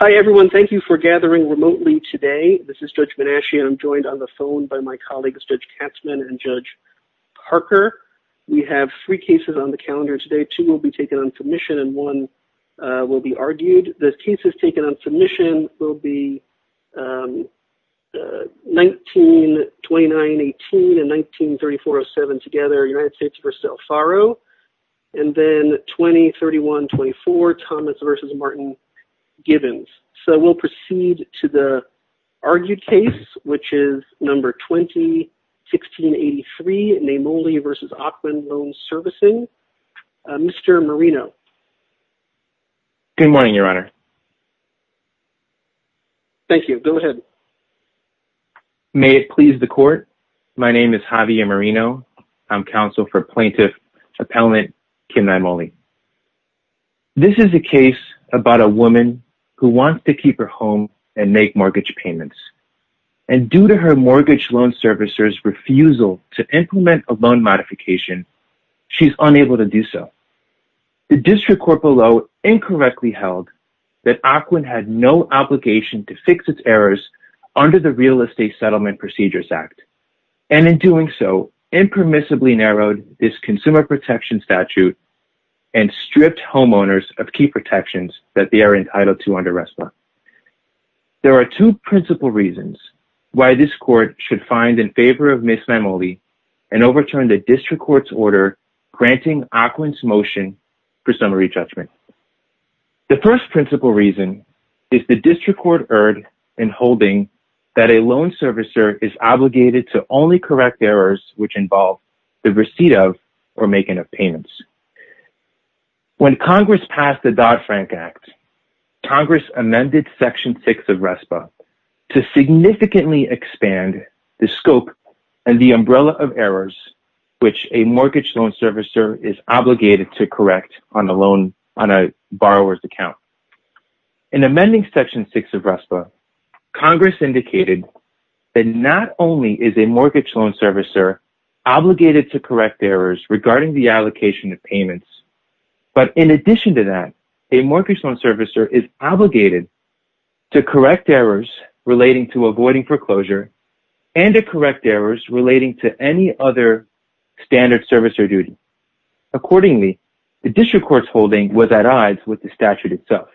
Hi, everyone. Thank you for gathering remotely today. This is Judge Menasche. I'm joined on the phone by my colleagues Judge Katzmann and Judge Parker. We have three cases on the calendar today. Two will be taken on submission and one will be argued. The cases taken on submission will be 1929-18 and 1934-07 together, United States versus El Faro, and then 2031-24, Thomas v. Martin Givens. So we'll proceed to the argued case, which is No. 20-1683, Naimoli v. Ocwen Loan Servicing. Mr. Marino. Good morning, Your Honor. Thank you. Go ahead. May it please the Court. My name is Javier Marino. I'm counsel for Plaintiff Appellant Kim Naimoli. This is a case about a woman who wants to keep her home and make mortgage payments, and due to her mortgage loan servicer's refusal to implement a loan modification, she's unable to do so. The District Court below incorrectly held that Ocwen had no obligation to fix its errors under the Real Estate Settlement Procedures Act, and in doing so, impermissibly narrowed this Consumer Protection Statute and stripped homeowners of key protections that they are entitled to under RESPA. There are two principal reasons why this Court should find in favor of Ms. Naimoli and overturn the District Court's order granting Ocwen's motion for summary judgment. The first principal reason is the District Court erred in holding that a loan servicer is obligated to only correct errors which involve the receipt of or making of payments. When Congress passed the Dodd-Frank Act, Congress amended Section 6 of RESPA to significantly expand the scope and the umbrella of errors which a mortgage loan servicer is obligated to correct on a borrower's account. In amending Section 6 of RESPA, Congress indicated that not only is a mortgage loan servicer obligated to correct errors regarding the allocation of payments, but in addition to that, a mortgage loan servicer is obligated to correct errors relating to avoiding foreclosure and to correct errors relating to any other standard servicer duty. Accordingly, the District Court's holding was at odds with the statute itself.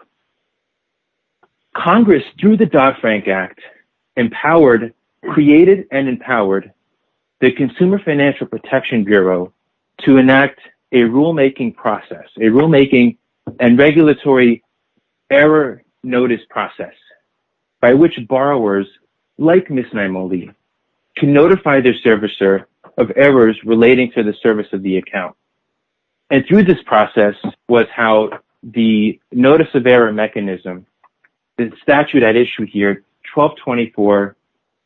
Congress, through the Dodd-Frank Act, empowered, created, and empowered the Consumer Financial Protection Bureau to enact a rulemaking process, a rulemaking and regulatory error notice process by which borrowers, like Ms. Naimoli, can notify their servicer of errors relating to the service of the account. And through this process was how the notice of error mechanism, the statute at issue here, 12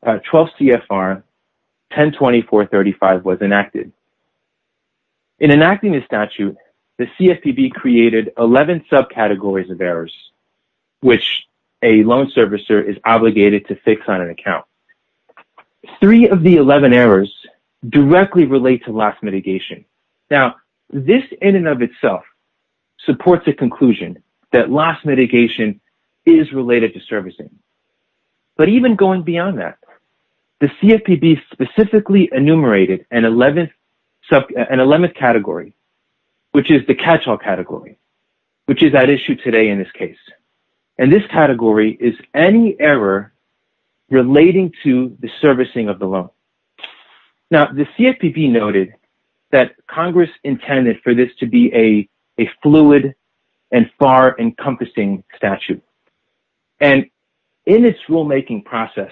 CFR 102435 was enacted. In enacting the statute, the CFPB created 11 subcategories of errors which a loan servicer is obligated to fix on an account. Three of the 11 errors directly relate to loss mitigation. Now, this in and of itself supports a conclusion that loss mitigation is related to servicing. But even going beyond that, the CFPB specifically enumerated an 11th category, which is the catch-all category, which is at issue today in this case. And this category is any error relating to the servicing of the loan. Now, the CFPB noted that Congress intended for this to be a fluid and far-encompassing statute. And in its rulemaking process,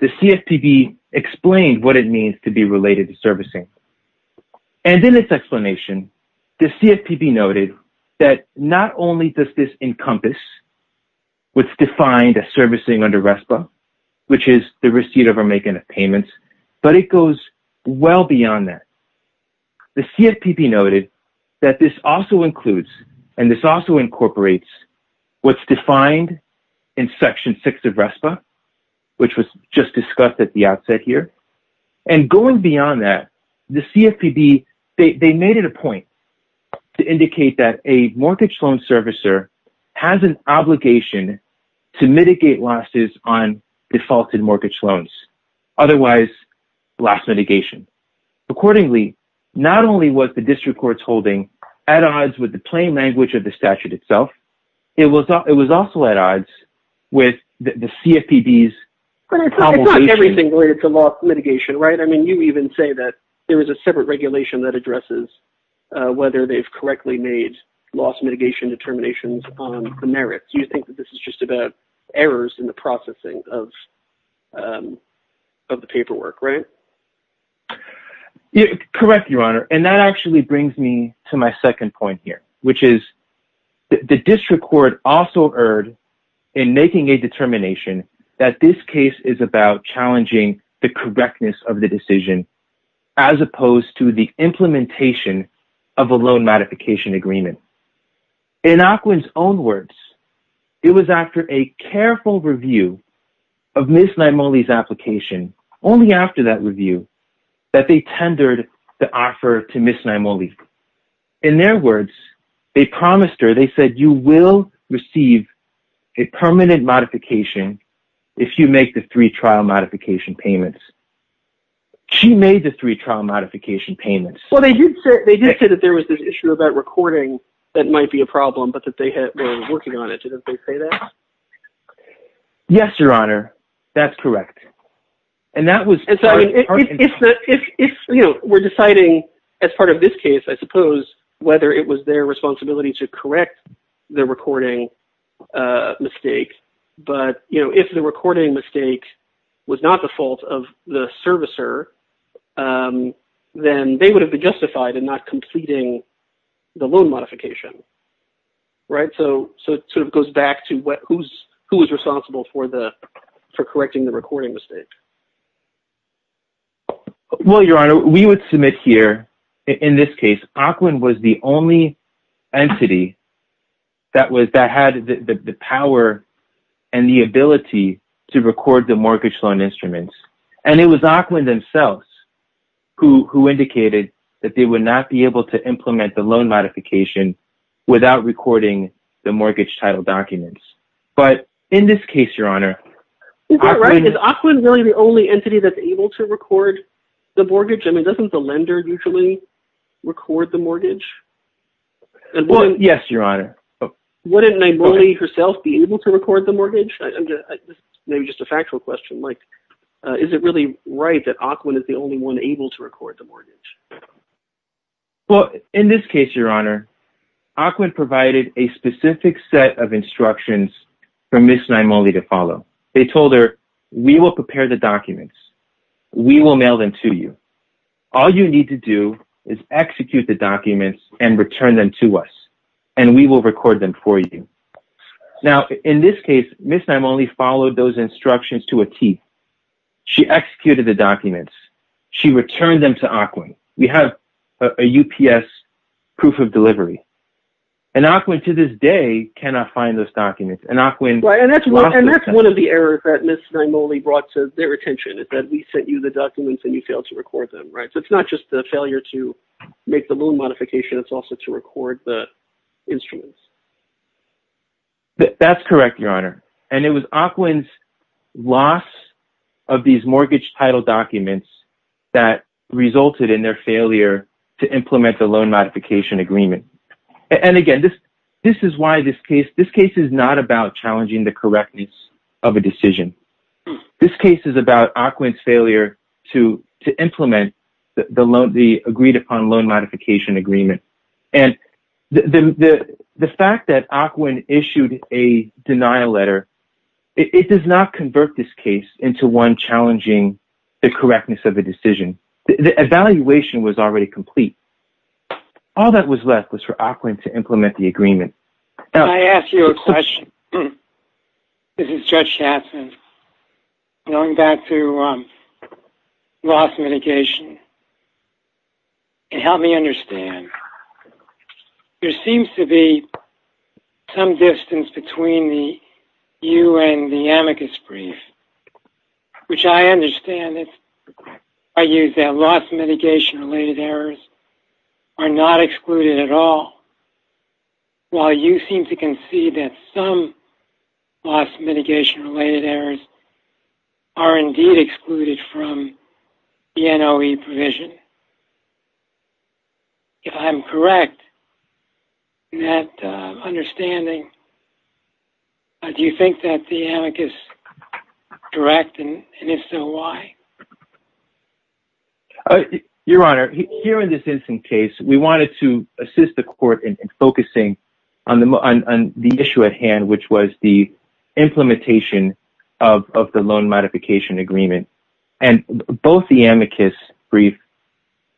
the CFPB explained what it means to be related to servicing. And in its explanation, the CFPB noted that not only does this encompass what's defined as servicing under RESPA, which is the receipt of a make and a payment, but it goes well beyond that. The CFPB noted that this also includes, and this also incorporates what's defined in Section 6 of RESPA, which was just discussed at the outset here. And going beyond that, the CFPB, they made it a point to indicate that a mortgage loan servicer has an obligation to mitigate losses on defaulted mortgage loans, otherwise, loss mitigation. Accordingly, not only was the district court's holding at odds with the plain language of the statute itself, it was also at odds with the CFPB's problem. It's not everything related to loss mitigation, right? I mean, you even say that there is a separate regulation that addresses whether they've correctly made loss mitigation determinations on the merits. You think that this is just about errors in the processing of the paperwork, right? Correct, Your Honor. And that actually brings me to my second point here, which is the district court also erred in making a determination that this case is about challenging the correctness of the decision, as opposed to the implementation of a loan modification agreement. In Aquin's own words, it was after a careful review of Ms. Naimoli's testimony, they promised her, they said, you will receive a permanent modification if you make the three trial modification payments. She made the three trial modification payments. Well, they did say that there was this issue about recording that might be a problem, but that they were working on it. Didn't they say that? Yes, Your Honor. That's correct. And that was... And so if we're deciding as part of this case, I suppose, whether it was their responsibility to correct the recording mistake. But, you know, if the recording mistake was not the fault of the servicer, then they would have been justified in not completing the loan modification, right? So it sort of goes back to who is responsible for correcting the recording mistake. Well, Your Honor, we would submit here, in this case, Aquin was the only entity that had the power and the ability to record the mortgage loan instruments. And it was Aquin themselves who indicated that they would not be able to implement the loan modification without recording the mortgage title documents. But in this case, Your Honor... Is that right? Is Aquin really the only record the mortgage? Well, yes, Your Honor. Wouldn't Naimole herself be able to record the mortgage? Maybe just a factual question, like, is it really right that Aquin is the only one able to record the mortgage? Well, in this case, Your Honor, Aquin provided a specific set of instructions for Ms. Naimole to follow. They told her, we will prepare the documents. We will mail them to you. All you need to do is execute the documents and return them to us, and we will record them for you. Now, in this case, Ms. Naimole followed those instructions to a T. She executed the documents. She returned them to Aquin. We have a UPS proof of delivery. And Aquin, to this day, cannot find those documents. And Aquin... Right, and that's one of the errors that Ms. Naimole brought to their attention is that we sent you the documents and you failed to record them, right? So it's not just the failure to make the loan modification, it's also to record the instruments. That's correct, Your Honor. And it was Aquin's loss of these mortgage title documents that resulted in their failure to implement the loan modification agreement. And again, this is why this case... This case is not about challenging the correctness of a decision. This case is about Aquin's failure to implement the agreed-upon loan modification agreement. And the fact that Aquin issued a denial letter, it does not convert this case into one challenging the correctness of a decision. The evaluation was already complete. All that was left was for Aquin to implement the agreement. Can I ask you a question? This is Judge Hatson. Going back to loss mitigation, can you help me understand? There seems to be some distance between you and the amicus brief, which I understand. I use that loss mitigation-related errors are not excluded at all. While you seem to concede that some loss mitigation-related errors are indeed excluded from the NOE provision. If I'm correct in that understanding, do you think that the amicus is correct? And if so, why? Your Honor, here in this instance case, we wanted to assist the court in focusing on the issue at hand, which was the implementation of the loan modification agreement. And both the amicus brief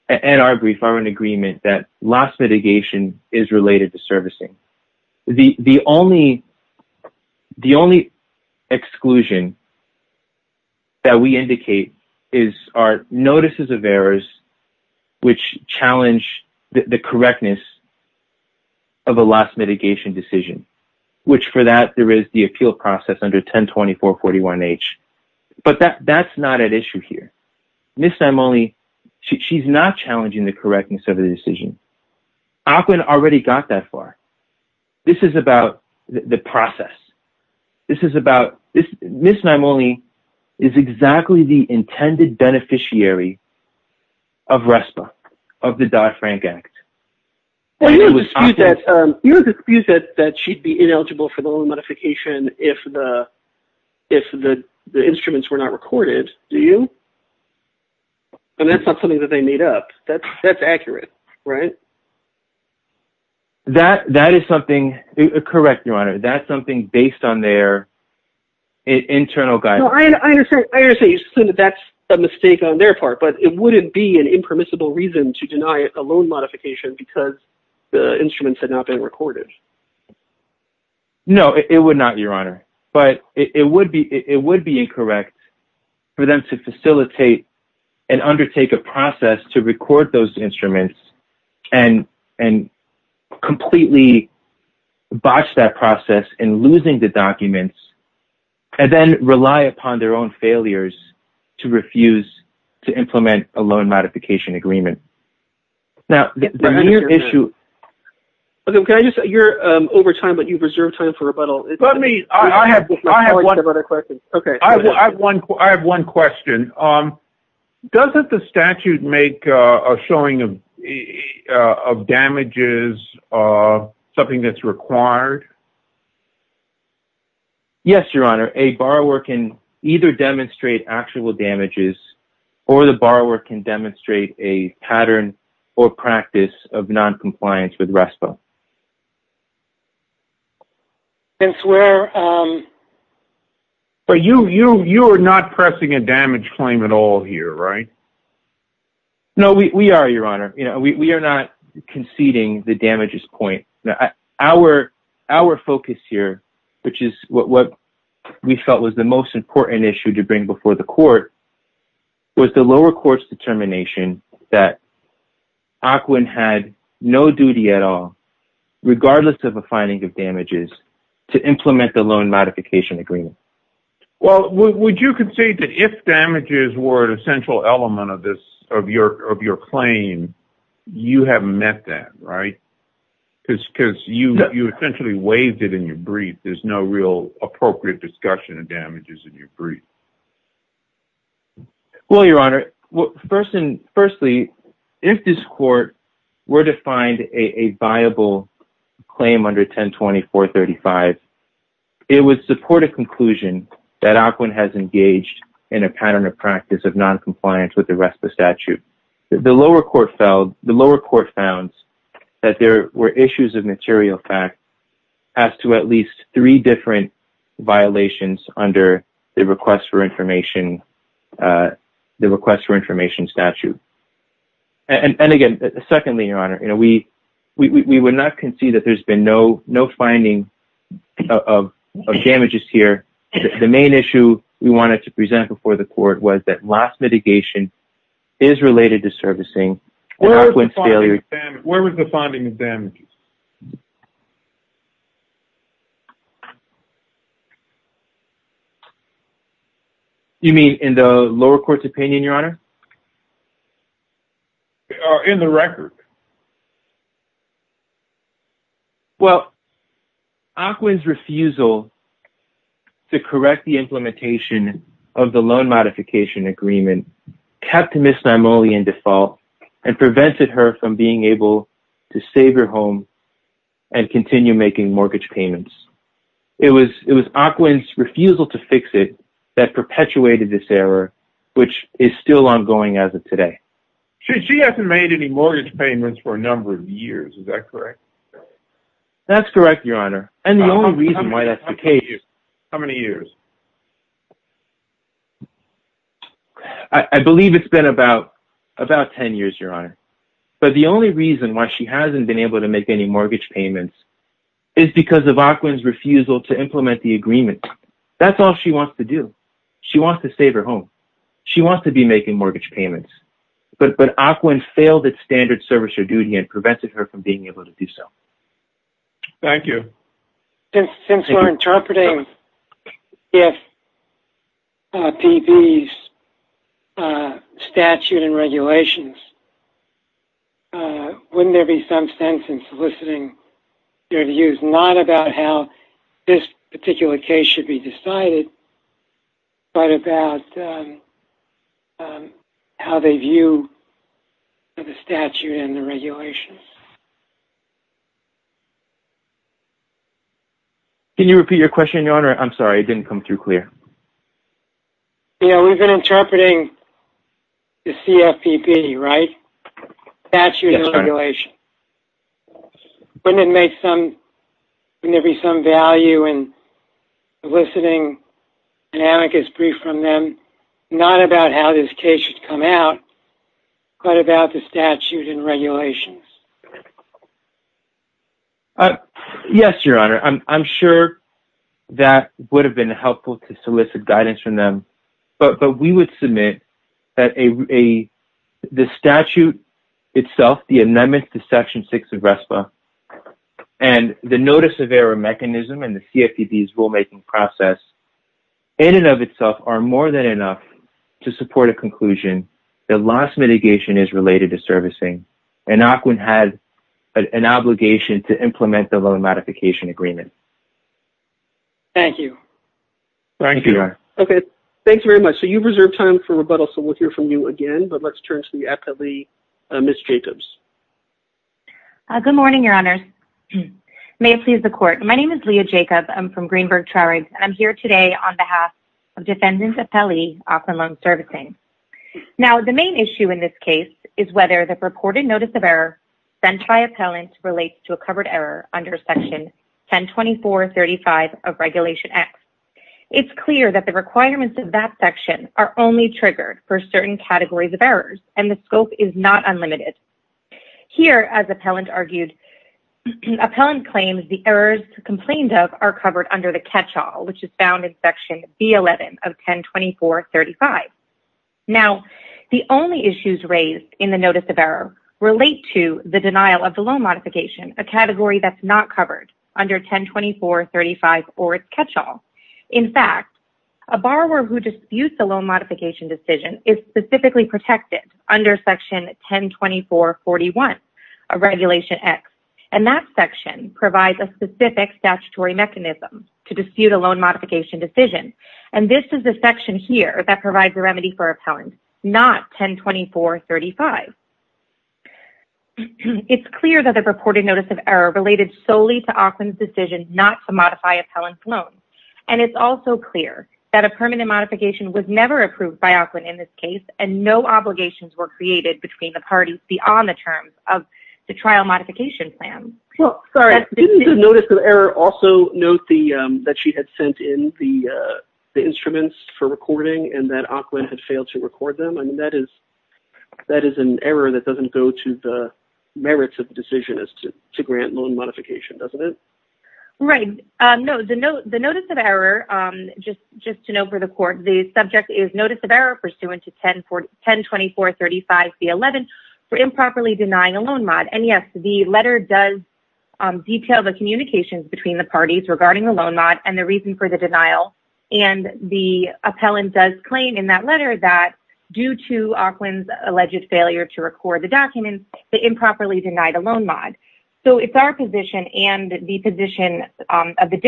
and our brief are in agreement that loss mitigation is related to servicing. The only exclusion that we indicate are notices of errors which challenge the correctness of a loss mitigation decision, which for that there is the appeal process under 102441H. But that's not at issue here. Ms. Simoni, she's not challenging the correctness of the decision. Aquinn already got that far. This is about the process. Ms. Simoni is exactly the intended beneficiary of RESPA, of the Dodd-Frank Act. You don't dispute that she'd be ineligible for the loan modification if the instruments were not recorded, do you? And that's not something that they made up. That's accurate, right? That is something correct, Your Honor. That's something based on their internal guidance. I understand that that's a mistake on their part, but it wouldn't be an impermissible reason to deny a loan modification because the instruments had not been recorded. No, it would not, Your Honor. But it would be and undertake a process to record those instruments and completely botch that process in losing the documents and then rely upon their own failures to refuse to implement a loan modification agreement. Now, the near issue... You're over time, but you've reserved time for rebuttal. I have one question. Doesn't the statute make a showing of damages something that's required? Yes, Your Honor. A borrower can either demonstrate actual damages or the borrower can demonstrate a pattern or practice of non-compliance with RESPA. Since we're... But you are not pressing a damage claim at all here, right? No, we are, Your Honor. We are not conceding the damages point. Our focus here, which is what we felt was the most important issue to bring before the court, was the lower court's determination that AQUIN had no duty at all, regardless of a finding of damages, to implement the loan modification agreement. Well, would you concede that if damages were an essential element of this, of your claim, you haven't met that, right? Because you essentially waived it in your brief. There's no real appropriate discussion of damages in your brief. Well, Your Honor, firstly, if this court were to find a viable claim under 102435, it would support a conclusion that AQUIN has engaged in a pattern of practice of non-compliance with the RESPA statute. The lower court found that there were issues of material fact as to at least three different violations under the request for information statute. And again, secondly, Your Honor, we would not concede that there's been no finding of damages here. The main issue we wanted to present before the court was that last mitigation is related to servicing. Where was the finding of damages? Do you mean in the lower court's opinion, Your Honor? In the record. Well, AQUIN's refusal to correct the implementation of the loan modification agreement kept Ms. Naimoli in default and prevented her from being able to save her home and continue making mortgage payments. It was AQUIN's refusal to fix it that perpetuated this error, which is still ongoing as of today. She hasn't made any mortgage payments for a number of years. Is that correct? That's correct, Your Honor. And the only reason why that's the case... How many years? I believe it's been about 10 years, Your Honor. But the only reason why she hasn't been able to is because of AQUIN's refusal to implement the agreement. That's all she wants to do. She wants to save her home. She wants to be making mortgage payments. But AQUIN failed its standard servicer duty and prevented her from being able to do so. Thank you. Since we're interpreting if PB's statute and regulations, wouldn't there be some sense in soliciting their views, not about how this particular case should be decided, but about how they view the statute and the regulations? Can you repeat your question, Your Honor? I'm sorry. It didn't come through clear. You know, we've been interpreting the CFPB, right? Statutes and regulations. Wouldn't it make some... Wouldn't there be some value in soliciting an amicus brief from them, not about how this case should come out, but about the statute and regulations? Yes, Your Honor. I'm sure that would have been helpful to solicit guidance from them. But we would submit that the statute itself, the amendment to Section 6 of RESPA, and the notice of error mechanism and the CFPB's rulemaking process, in and of itself, are more than enough to support a conclusion that loss mitigation is related to servicing. And AQUIN has an obligation to implement the loan modification agreement. Thank you. Thank you, Your Honor. Okay. Thanks very much. So you've reserved time for rebuttal. So we'll hear from you again, but let's turn to the appellee, Ms. Jacobs. Good morning, Your Honors. May it please the defendant's appellee, Austin Loan Servicing. Now, the main issue in this case is whether the purported notice of error sent by appellant relates to a covered error under Section 1024.35 of Regulation X. It's clear that the requirements of that section are only triggered for certain categories of errors, and the scope is not unlimited. Here, as appellant argued, appellant claims the errors complained of are covered under the catch-all, which is found in Section B11 of 1024.35. Now, the only issues raised in the notice of error relate to the denial of the loan modification, a category that's not covered under 1024.35 or its catch-all. In fact, a borrower who disputes a loan modification decision is specifically protected under Section 1024.41 of Regulation X, and that section provides a specific statutory mechanism to dispute a loan modification decision, and this is the section here that provides a remedy for appellant, not 1024.35. It's clear that the purported notice of error related solely to Aukland's decision not to modify appellant's loan, and it's also clear that a permanent between the parties beyond the terms of the trial modification plan. Well, sorry, didn't the notice of error also note that she had sent in the instruments for recording and that Aukland had failed to record them? I mean, that is an error that doesn't go to the merits of the decision as to grant loan modification, doesn't it? Right. No, the notice of error, just to note for the Court, the subject is notice of error pursuant to 1024.35c11 for improperly denying a loan mod, and yes, the letter does detail the communications between the parties regarding the loan mod and the reason for the denial, and the appellant does claim in that letter that due to Aukland's alleged failure to record the documents, they improperly denied a loan mod. So, it's our position and the position of the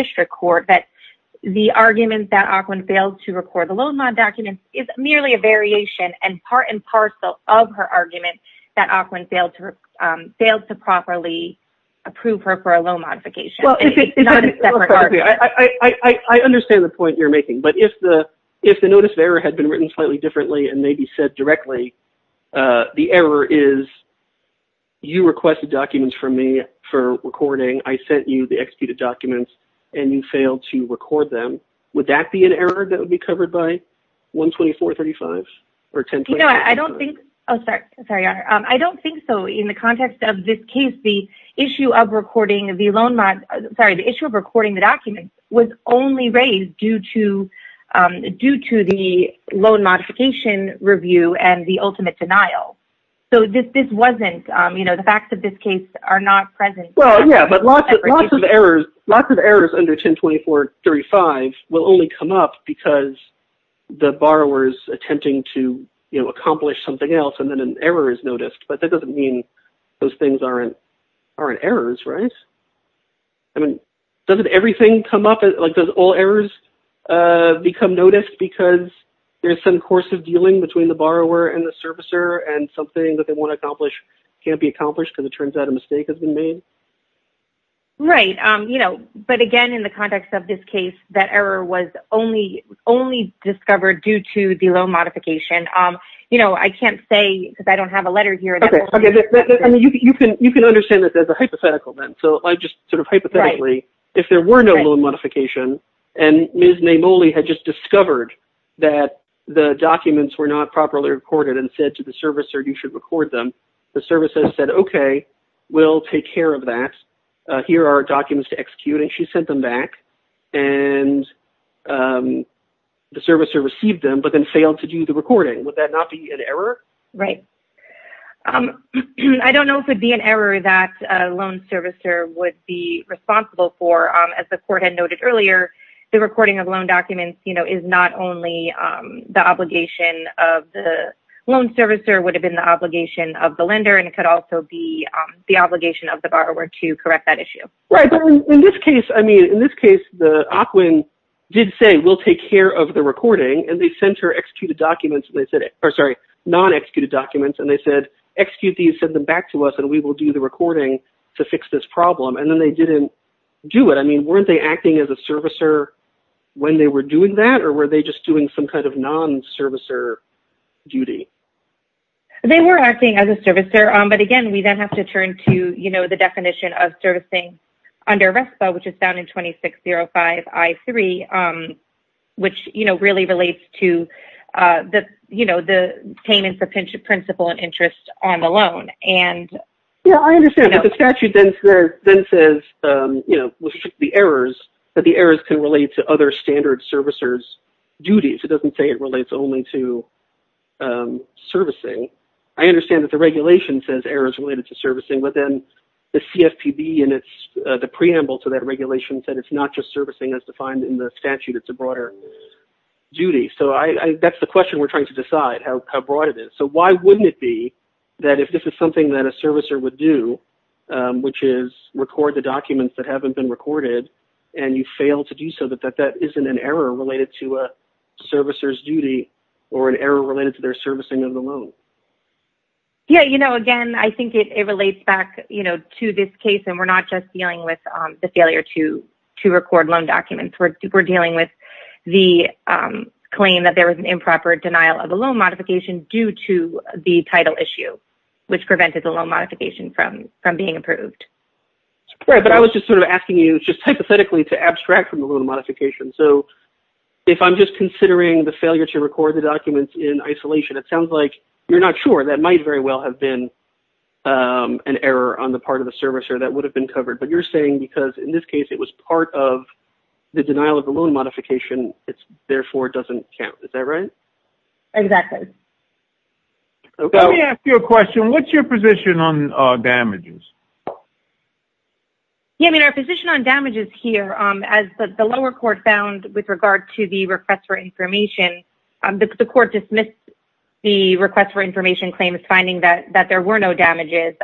variation and part and parcel of her argument that Aukland failed to properly approve her for a loan modification. It's not a separate argument. I understand the point you're making, but if the notice of error had been written slightly differently and maybe said directly, the error is you requested documents from me for recording, I sent you the executed documents, and you failed to record them, would that be an error that would be covered by 124.35 or 1024.35? No, I don't think so in the context of this case. The issue of recording the documents was only raised due to the loan modification review and the ultimate denial. So, the facts of this case are not present. Well, yeah, but lots of errors under 1024.35 will only come up because the borrower's attempting to accomplish something else and then an error is noticed, but that doesn't mean those things aren't errors, right? I mean, doesn't everything come up? Like, does all errors become noticed because there's some course of dealing between the borrower and the servicer and something that they want to accomplish can't be accomplished because it turns out a mistake has been made? Right, you know, but again, in the context of this case, that error was only discovered due to the loan modification. You know, I can't say because I don't have a letter here. Okay, I mean, you can understand that there's a hypothetical then. So, I just sort of hypothetically, if there were no loan modification and Ms. Namoli had just discovered that the documents were not properly recorded and said to the servicer, you should record them, the servicer said, okay, we'll take care of that. Here are documents to execute and she sent them back and the servicer received them, but then failed to do the recording. Would that not be an error? Right. I don't know if it'd be an error that a loan servicer would be responsible for. As the court had noted earlier, the recording of loan documents, you know, is not only the obligation of the loan servicer, it would have been the obligation of the lender and it could also be the obligation of the borrower to correct that issue. Right, but in this case, I mean, in this case, the OCWIN did say, we'll take care of the recording and they sent her non-executed documents and they said, execute these, send them back to us, and we will do the recording to fix this problem. And then they didn't do it. I mean, weren't they acting as a servicer when they were doing that or were they just doing some kind of servicer duty? They were acting as a servicer, but again, we then have to turn to, you know, the definition of servicing under RESPA, which is found in 2605 I-3, which, you know, really relates to the, you know, the payment for principal and interest on the loan. Yeah, I understand, but the statute then says, you know, restrict the errors, but the errors can relate to other standard servicers' duties. It doesn't say it relates only to servicing. I understand that the regulation says errors related to servicing, but then the CFPB and the preamble to that regulation said it's not just servicing as defined in the statute, it's a broader duty. So, that's the question we're trying to decide, how broad it is. So, why wouldn't it be that if this is something that a servicer would do, which is record the documents that haven't been recorded and you fail to do so, that that isn't an error related to a servicer's duty or an error related to their servicing of the loan? Yeah, you know, again, I think it relates back, you know, to this case, and we're not just dealing with the failure to record loan documents. We're dealing with the claim that there was an improper denial of a loan modification due to the title issue, which prevented the loan modification from being approved. Right, but I was just sort of asking you just hypothetically to abstract from the loan modification. So, if I'm just considering the failure to record the documents in isolation, it sounds like you're not sure. That might very well have been an error on the part of the servicer that would have been covered, but you're saying because in this case, it was part of the denial of the loan modification, therefore, it doesn't count. Is that right? Exactly. Let me ask you a question. What's your position on damages? Yeah, I mean, our position on damages here, as the lower court found with regard to the request for information, the court dismissed the request for information claims finding that there were no damages,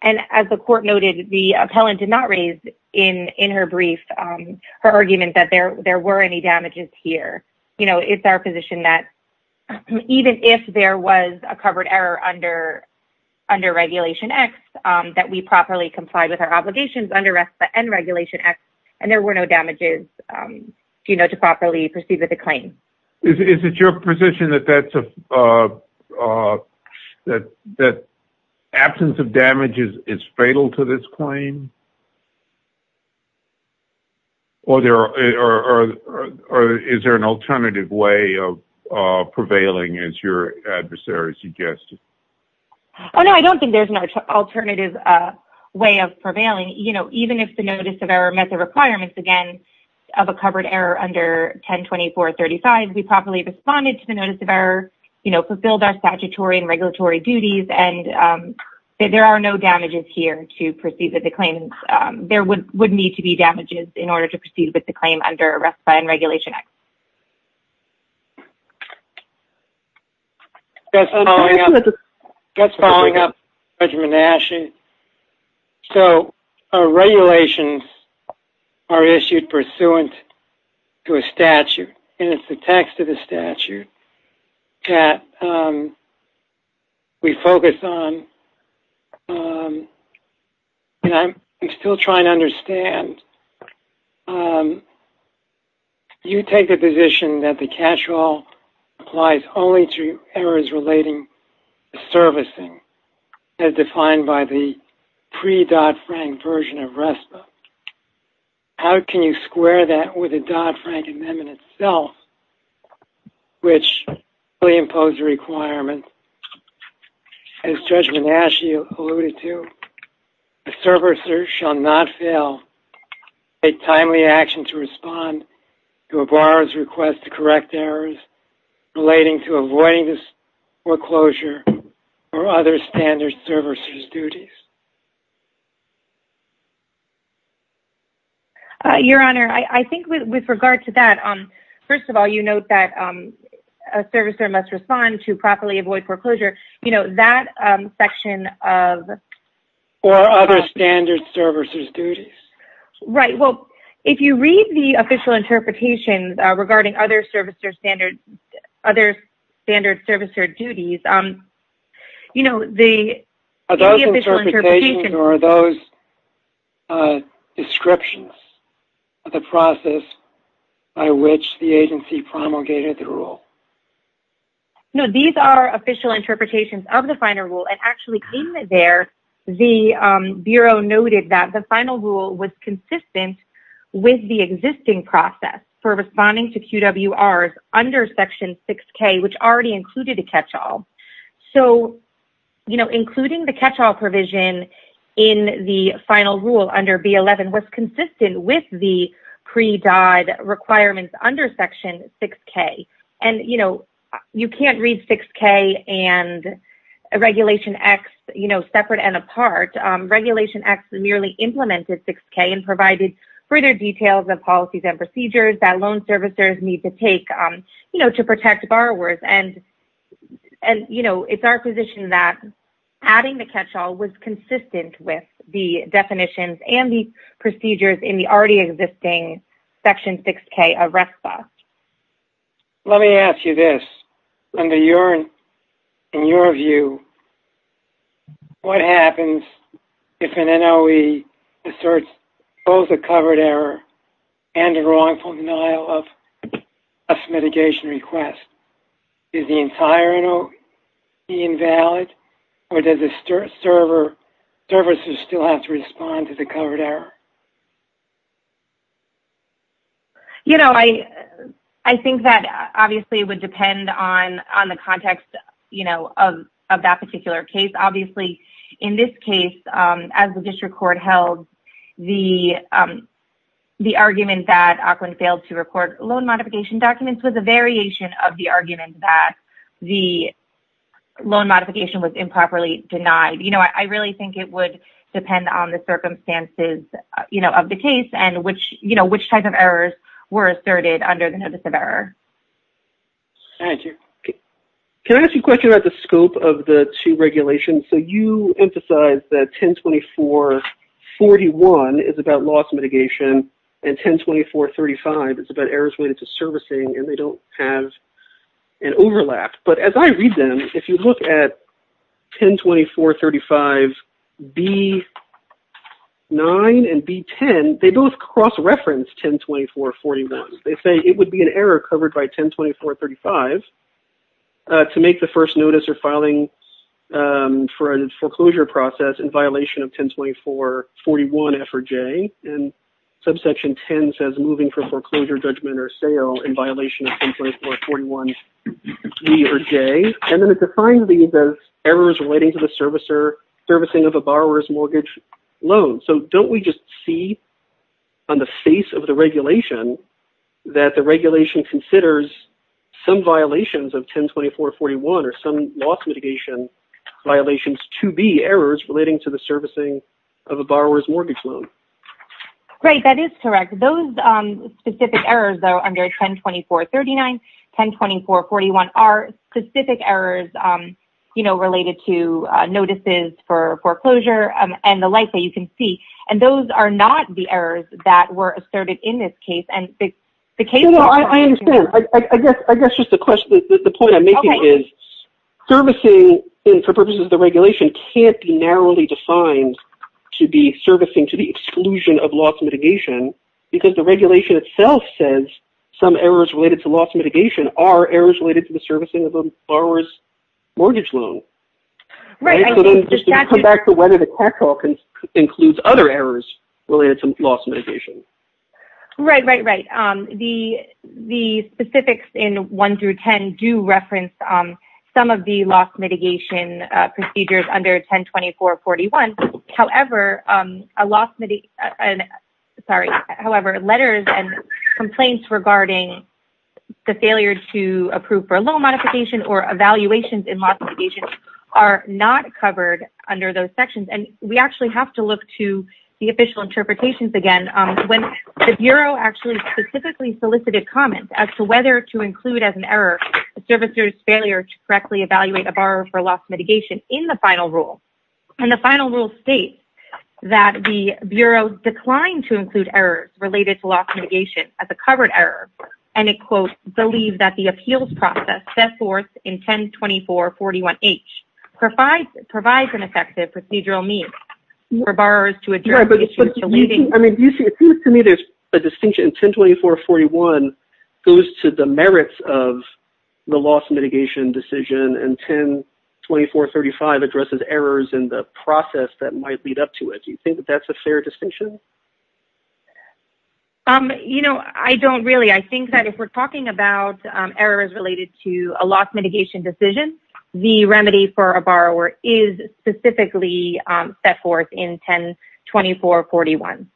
and as the court noted, the appellant did not raise in her brief her argument that there were any damages here. You know, it's our position that even if there was a covered error under Regulation X, that we properly complied with our obligations under RESPA and Regulation X, and there were no damages, you know, to properly proceed with the claim. Is it your position that absence of damages is fatal to this claim? Or is there an alternative way of prevailing, as your adversary suggested? No, I don't think there's an alternative way of prevailing. You know, even if the notice of error met the requirements, again, of a covered error under 102435, we properly responded to the notice of error, you know, fulfilled our statutory and regulatory duties, and there are no damages here to proceed with the claim. There would need to be damages in order to proceed with the claim under RESPA and Regulation X. Just following up, Judge Manasci, so our regulations are issued pursuant to a statute, and it's the text of the statute that we focus on, and I'm still trying to understand, you take the position that the catch-all applies only to errors relating to servicing, as defined by the pre-Dodd-Frank version of RESPA. How can you square that with the Dodd-Frank amendment itself, which really imposed a requirement, as Judge Manasci alluded to, a servicer shall not fail to take timely action to respond to a borrower's request to correct errors relating to avoiding foreclosure or other standard servicer's duties? Your Honor, I think with regard to that, first of all, you note that a servicer must respond to properly avoid foreclosure. That section of... Or other standard servicer's duties. Right. Well, if you read the official interpretation regarding other standard servicer duties... Are those descriptions of the process by which the agency promulgated the rule? No. These are official interpretations of the final rule, and actually in there, the Bureau noted that the final rule was consistent with the existing process for responding to QWRs under Section 6K, which already included a catch-all. So, you know, including the catch-all provision in the final rule under B11 was consistent with the DOD requirements under Section 6K. And, you know, you can't read 6K and Regulation X, you know, separate and apart. Regulation X merely implemented 6K and provided further details of policies and procedures that loan servicers need to take, you know, to protect borrowers. And, you know, it's our position that adding the catch-all was consistent with the definitions and the procedures in the already existing Section 6K of RECFA. Let me ask you this. Under your... In your view, what happens if an NOE asserts both a covered error and a wrongful denial of mitigation request? Is the entire NOE invalid, or does the server services still have to respond to the covered error? You know, I think that, obviously, it would depend on the context, you know, of that particular case. Obviously, in this case, as the district court held, the argument that Aukland failed to report loan modification documents was a variation of the argument that the loan modification was invalid. So, I think it would depend on the circumstances, you know, of the case and which, you know, which type of errors were asserted under the notice of error. Thank you. Can I ask you a question about the scope of the two regulations? So, you emphasize that 1024.41 is about loss mitigation and 1024.35 is about errors related to servicing, and they B9 and B10, they both cross-reference 1024.41. They say it would be an error covered by 1024.35 to make the first notice or filing for a foreclosure process in violation of 1024.41 F or J, and subsection 10 says moving for foreclosure judgment or sale in violation of those errors relating to the servicing of a borrower's mortgage loan. So, don't we just see on the face of the regulation that the regulation considers some violations of 1024.41 or some loss mitigation violations to be errors relating to the servicing of a borrower's mortgage loan? Great. That is correct. Those specific errors, though, under 1024.39, 1024.41 are specific errors related to notices for foreclosure and the like that you can see, and those are not the errors that were asserted in this case. I understand. I guess just the point I'm making is servicing for purposes of the regulation can't be narrowly defined to be servicing to the exclusion of loss mitigation because the are errors related to the servicing of a borrower's mortgage loan. Right. So, just to come back to whether the CAC law includes other errors related to loss mitigation. Right, right, right. The specifics in 1 through 10 do reference some of the loss mitigation procedures under 1024.41. However, letters and complaints regarding the failure to approve for loan modification or evaluations in loss mitigation are not covered under those sections, and we actually have to look to the official interpretations again. When the Bureau actually specifically solicited comments as to whether to include as an error a servicer's failure to correctly evaluate a borrower for loss mitigation in the final rule, and the final rule states that the Bureau declined to include errors related to loss mitigation as covered error, and it, quote, believes that the appeals process set forth in 1024.41H provides an effective procedural means for borrowers to address issues relating to loss mitigation. I mean, it seems to me there's a distinction. 1024.41 goes to the merits of the loss mitigation decision, and 1024.35 addresses errors in the process that might lead up to it. Do you think that's a fair distinction? You know, I don't really. I think that if we're talking about errors related to a loss mitigation decision, the remedy for a borrower is specifically set forth in 1024.41.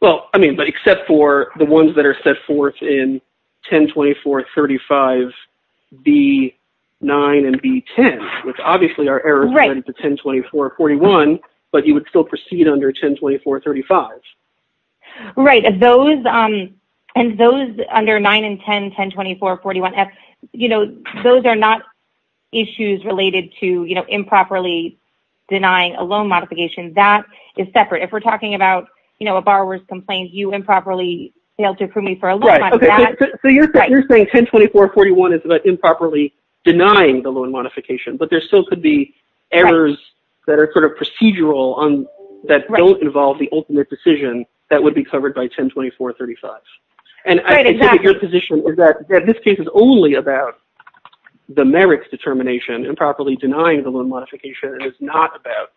Well, I mean, but except for the ones that are set forth in B9 and B10, which obviously are errors related to 1024.41, but you would still proceed under 1024.35. Right. And those under 9 and 10, 1024.41F, you know, those are not issues related to, you know, improperly denying a loan modification. That is separate. If we're talking about, you know, a borrower's complaint, you improperly failed to approve me for a loan. So you're saying 1024.41 is about improperly denying the loan modification, but there still could be errors that are sort of procedural on that don't involve the ultimate decision that would be covered by 1024.35. And your position is that this case is only about the merits determination, improperly denying the loan modification, and it's not about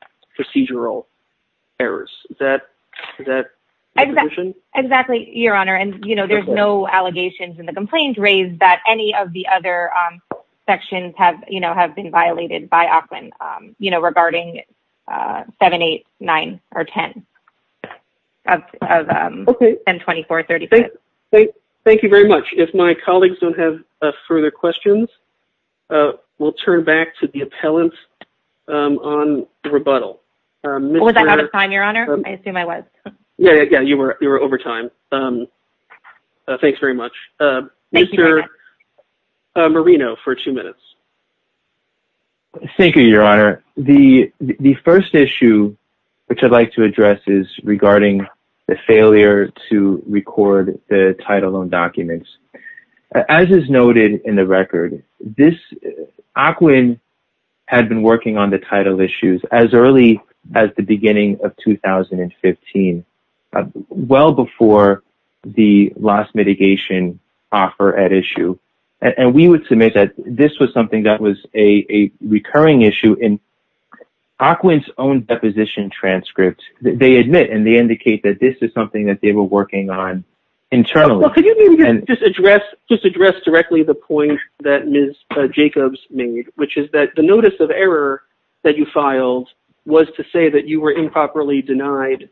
allegations in the complaint raised that any of the other sections have, you know, have been violated by Auckland, you know, regarding 7, 8, 9, or 10 of 1024.35. Thank you very much. If my colleagues don't have further questions, we'll turn back to the appellant on rebuttal. Was I out of time, Your Honor? I assume I was. Yeah, you were over time. But thanks very much. Mr. Marino for two minutes. Thank you, Your Honor. The first issue which I'd like to address is regarding the failure to record the title on documents. As is noted in the record, this, Auckland had been working on the title issues as early as the beginning of 2015, well before the last mitigation offer at issue. And we would submit that this was something that was a recurring issue in Auckland's own deposition transcript. They admit and they indicate that this is something that they were working on internally. Could you just address directly the point that Ms. Jacobs made, which is that the notice of error that you filed was to say that you were improperly denied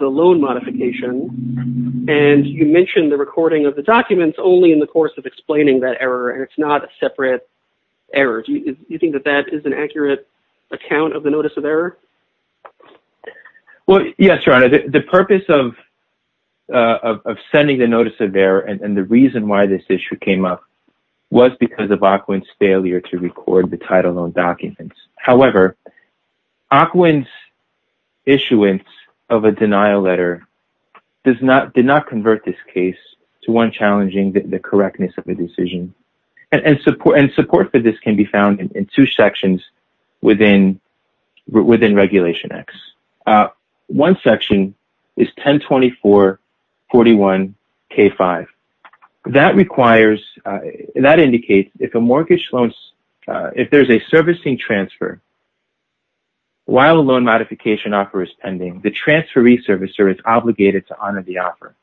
the loan modification, and you mentioned the recording of the documents only in the course of explaining that error, and it's not a separate error. Do you think that that is an accurate account of the notice of error? Well, yes, Your Honor. The purpose of sending the notice of error and the reason why this issue came up was because of Auckland's failure to record the title on documents. However, Auckland's issuance of a denial letter did not convert this case to one challenging the correctness of the decision. And support for this can be found in two sections within Regulation X. One section is 1024-41-K5. That indicates if there's a servicing transfer while a loan modification offer is pending, the transferee servicer is obligated to honor the offer.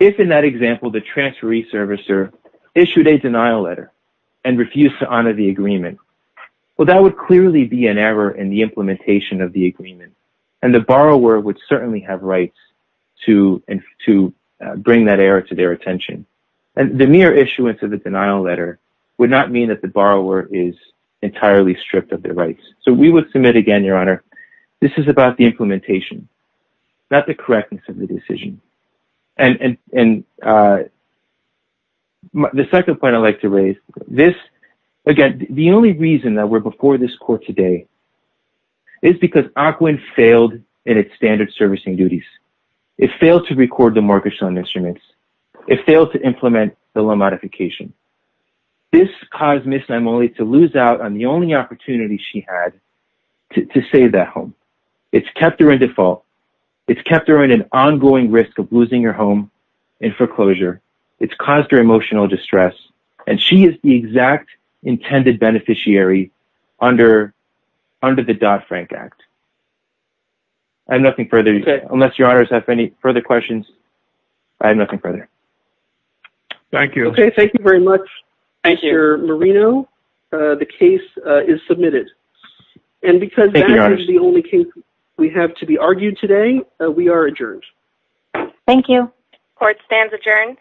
If in that example, the transferee servicer issued a denial letter and refused to honor the offer, that would clearly be an error in the implementation of the agreement, and the borrower would certainly have rights to bring that error to their attention. The mere issuance of the denial letter would not mean that the borrower is entirely stripped of their rights. So we would submit again, Your Honor, this is about the implementation, not the correctness of the today. It's because Auckland failed in its standard servicing duties. It failed to record the mortgage loan instruments. It failed to implement the loan modification. This caused Ms. Nymoli to lose out on the only opportunity she had to save that home. It's kept her in default. It's kept her in an ongoing risk of losing her home in foreclosure. It's caused her emotional distress, and she is the exact intended beneficiary under the Dodd-Frank Act. I have nothing further. Unless Your Honor has any further questions, I have nothing further. Thank you. Okay. Thank you very much, Mr. Marino. The case is submitted. And because that is the only case we have to be argued today, we are adjourned. Thank you. Court stands adjourned.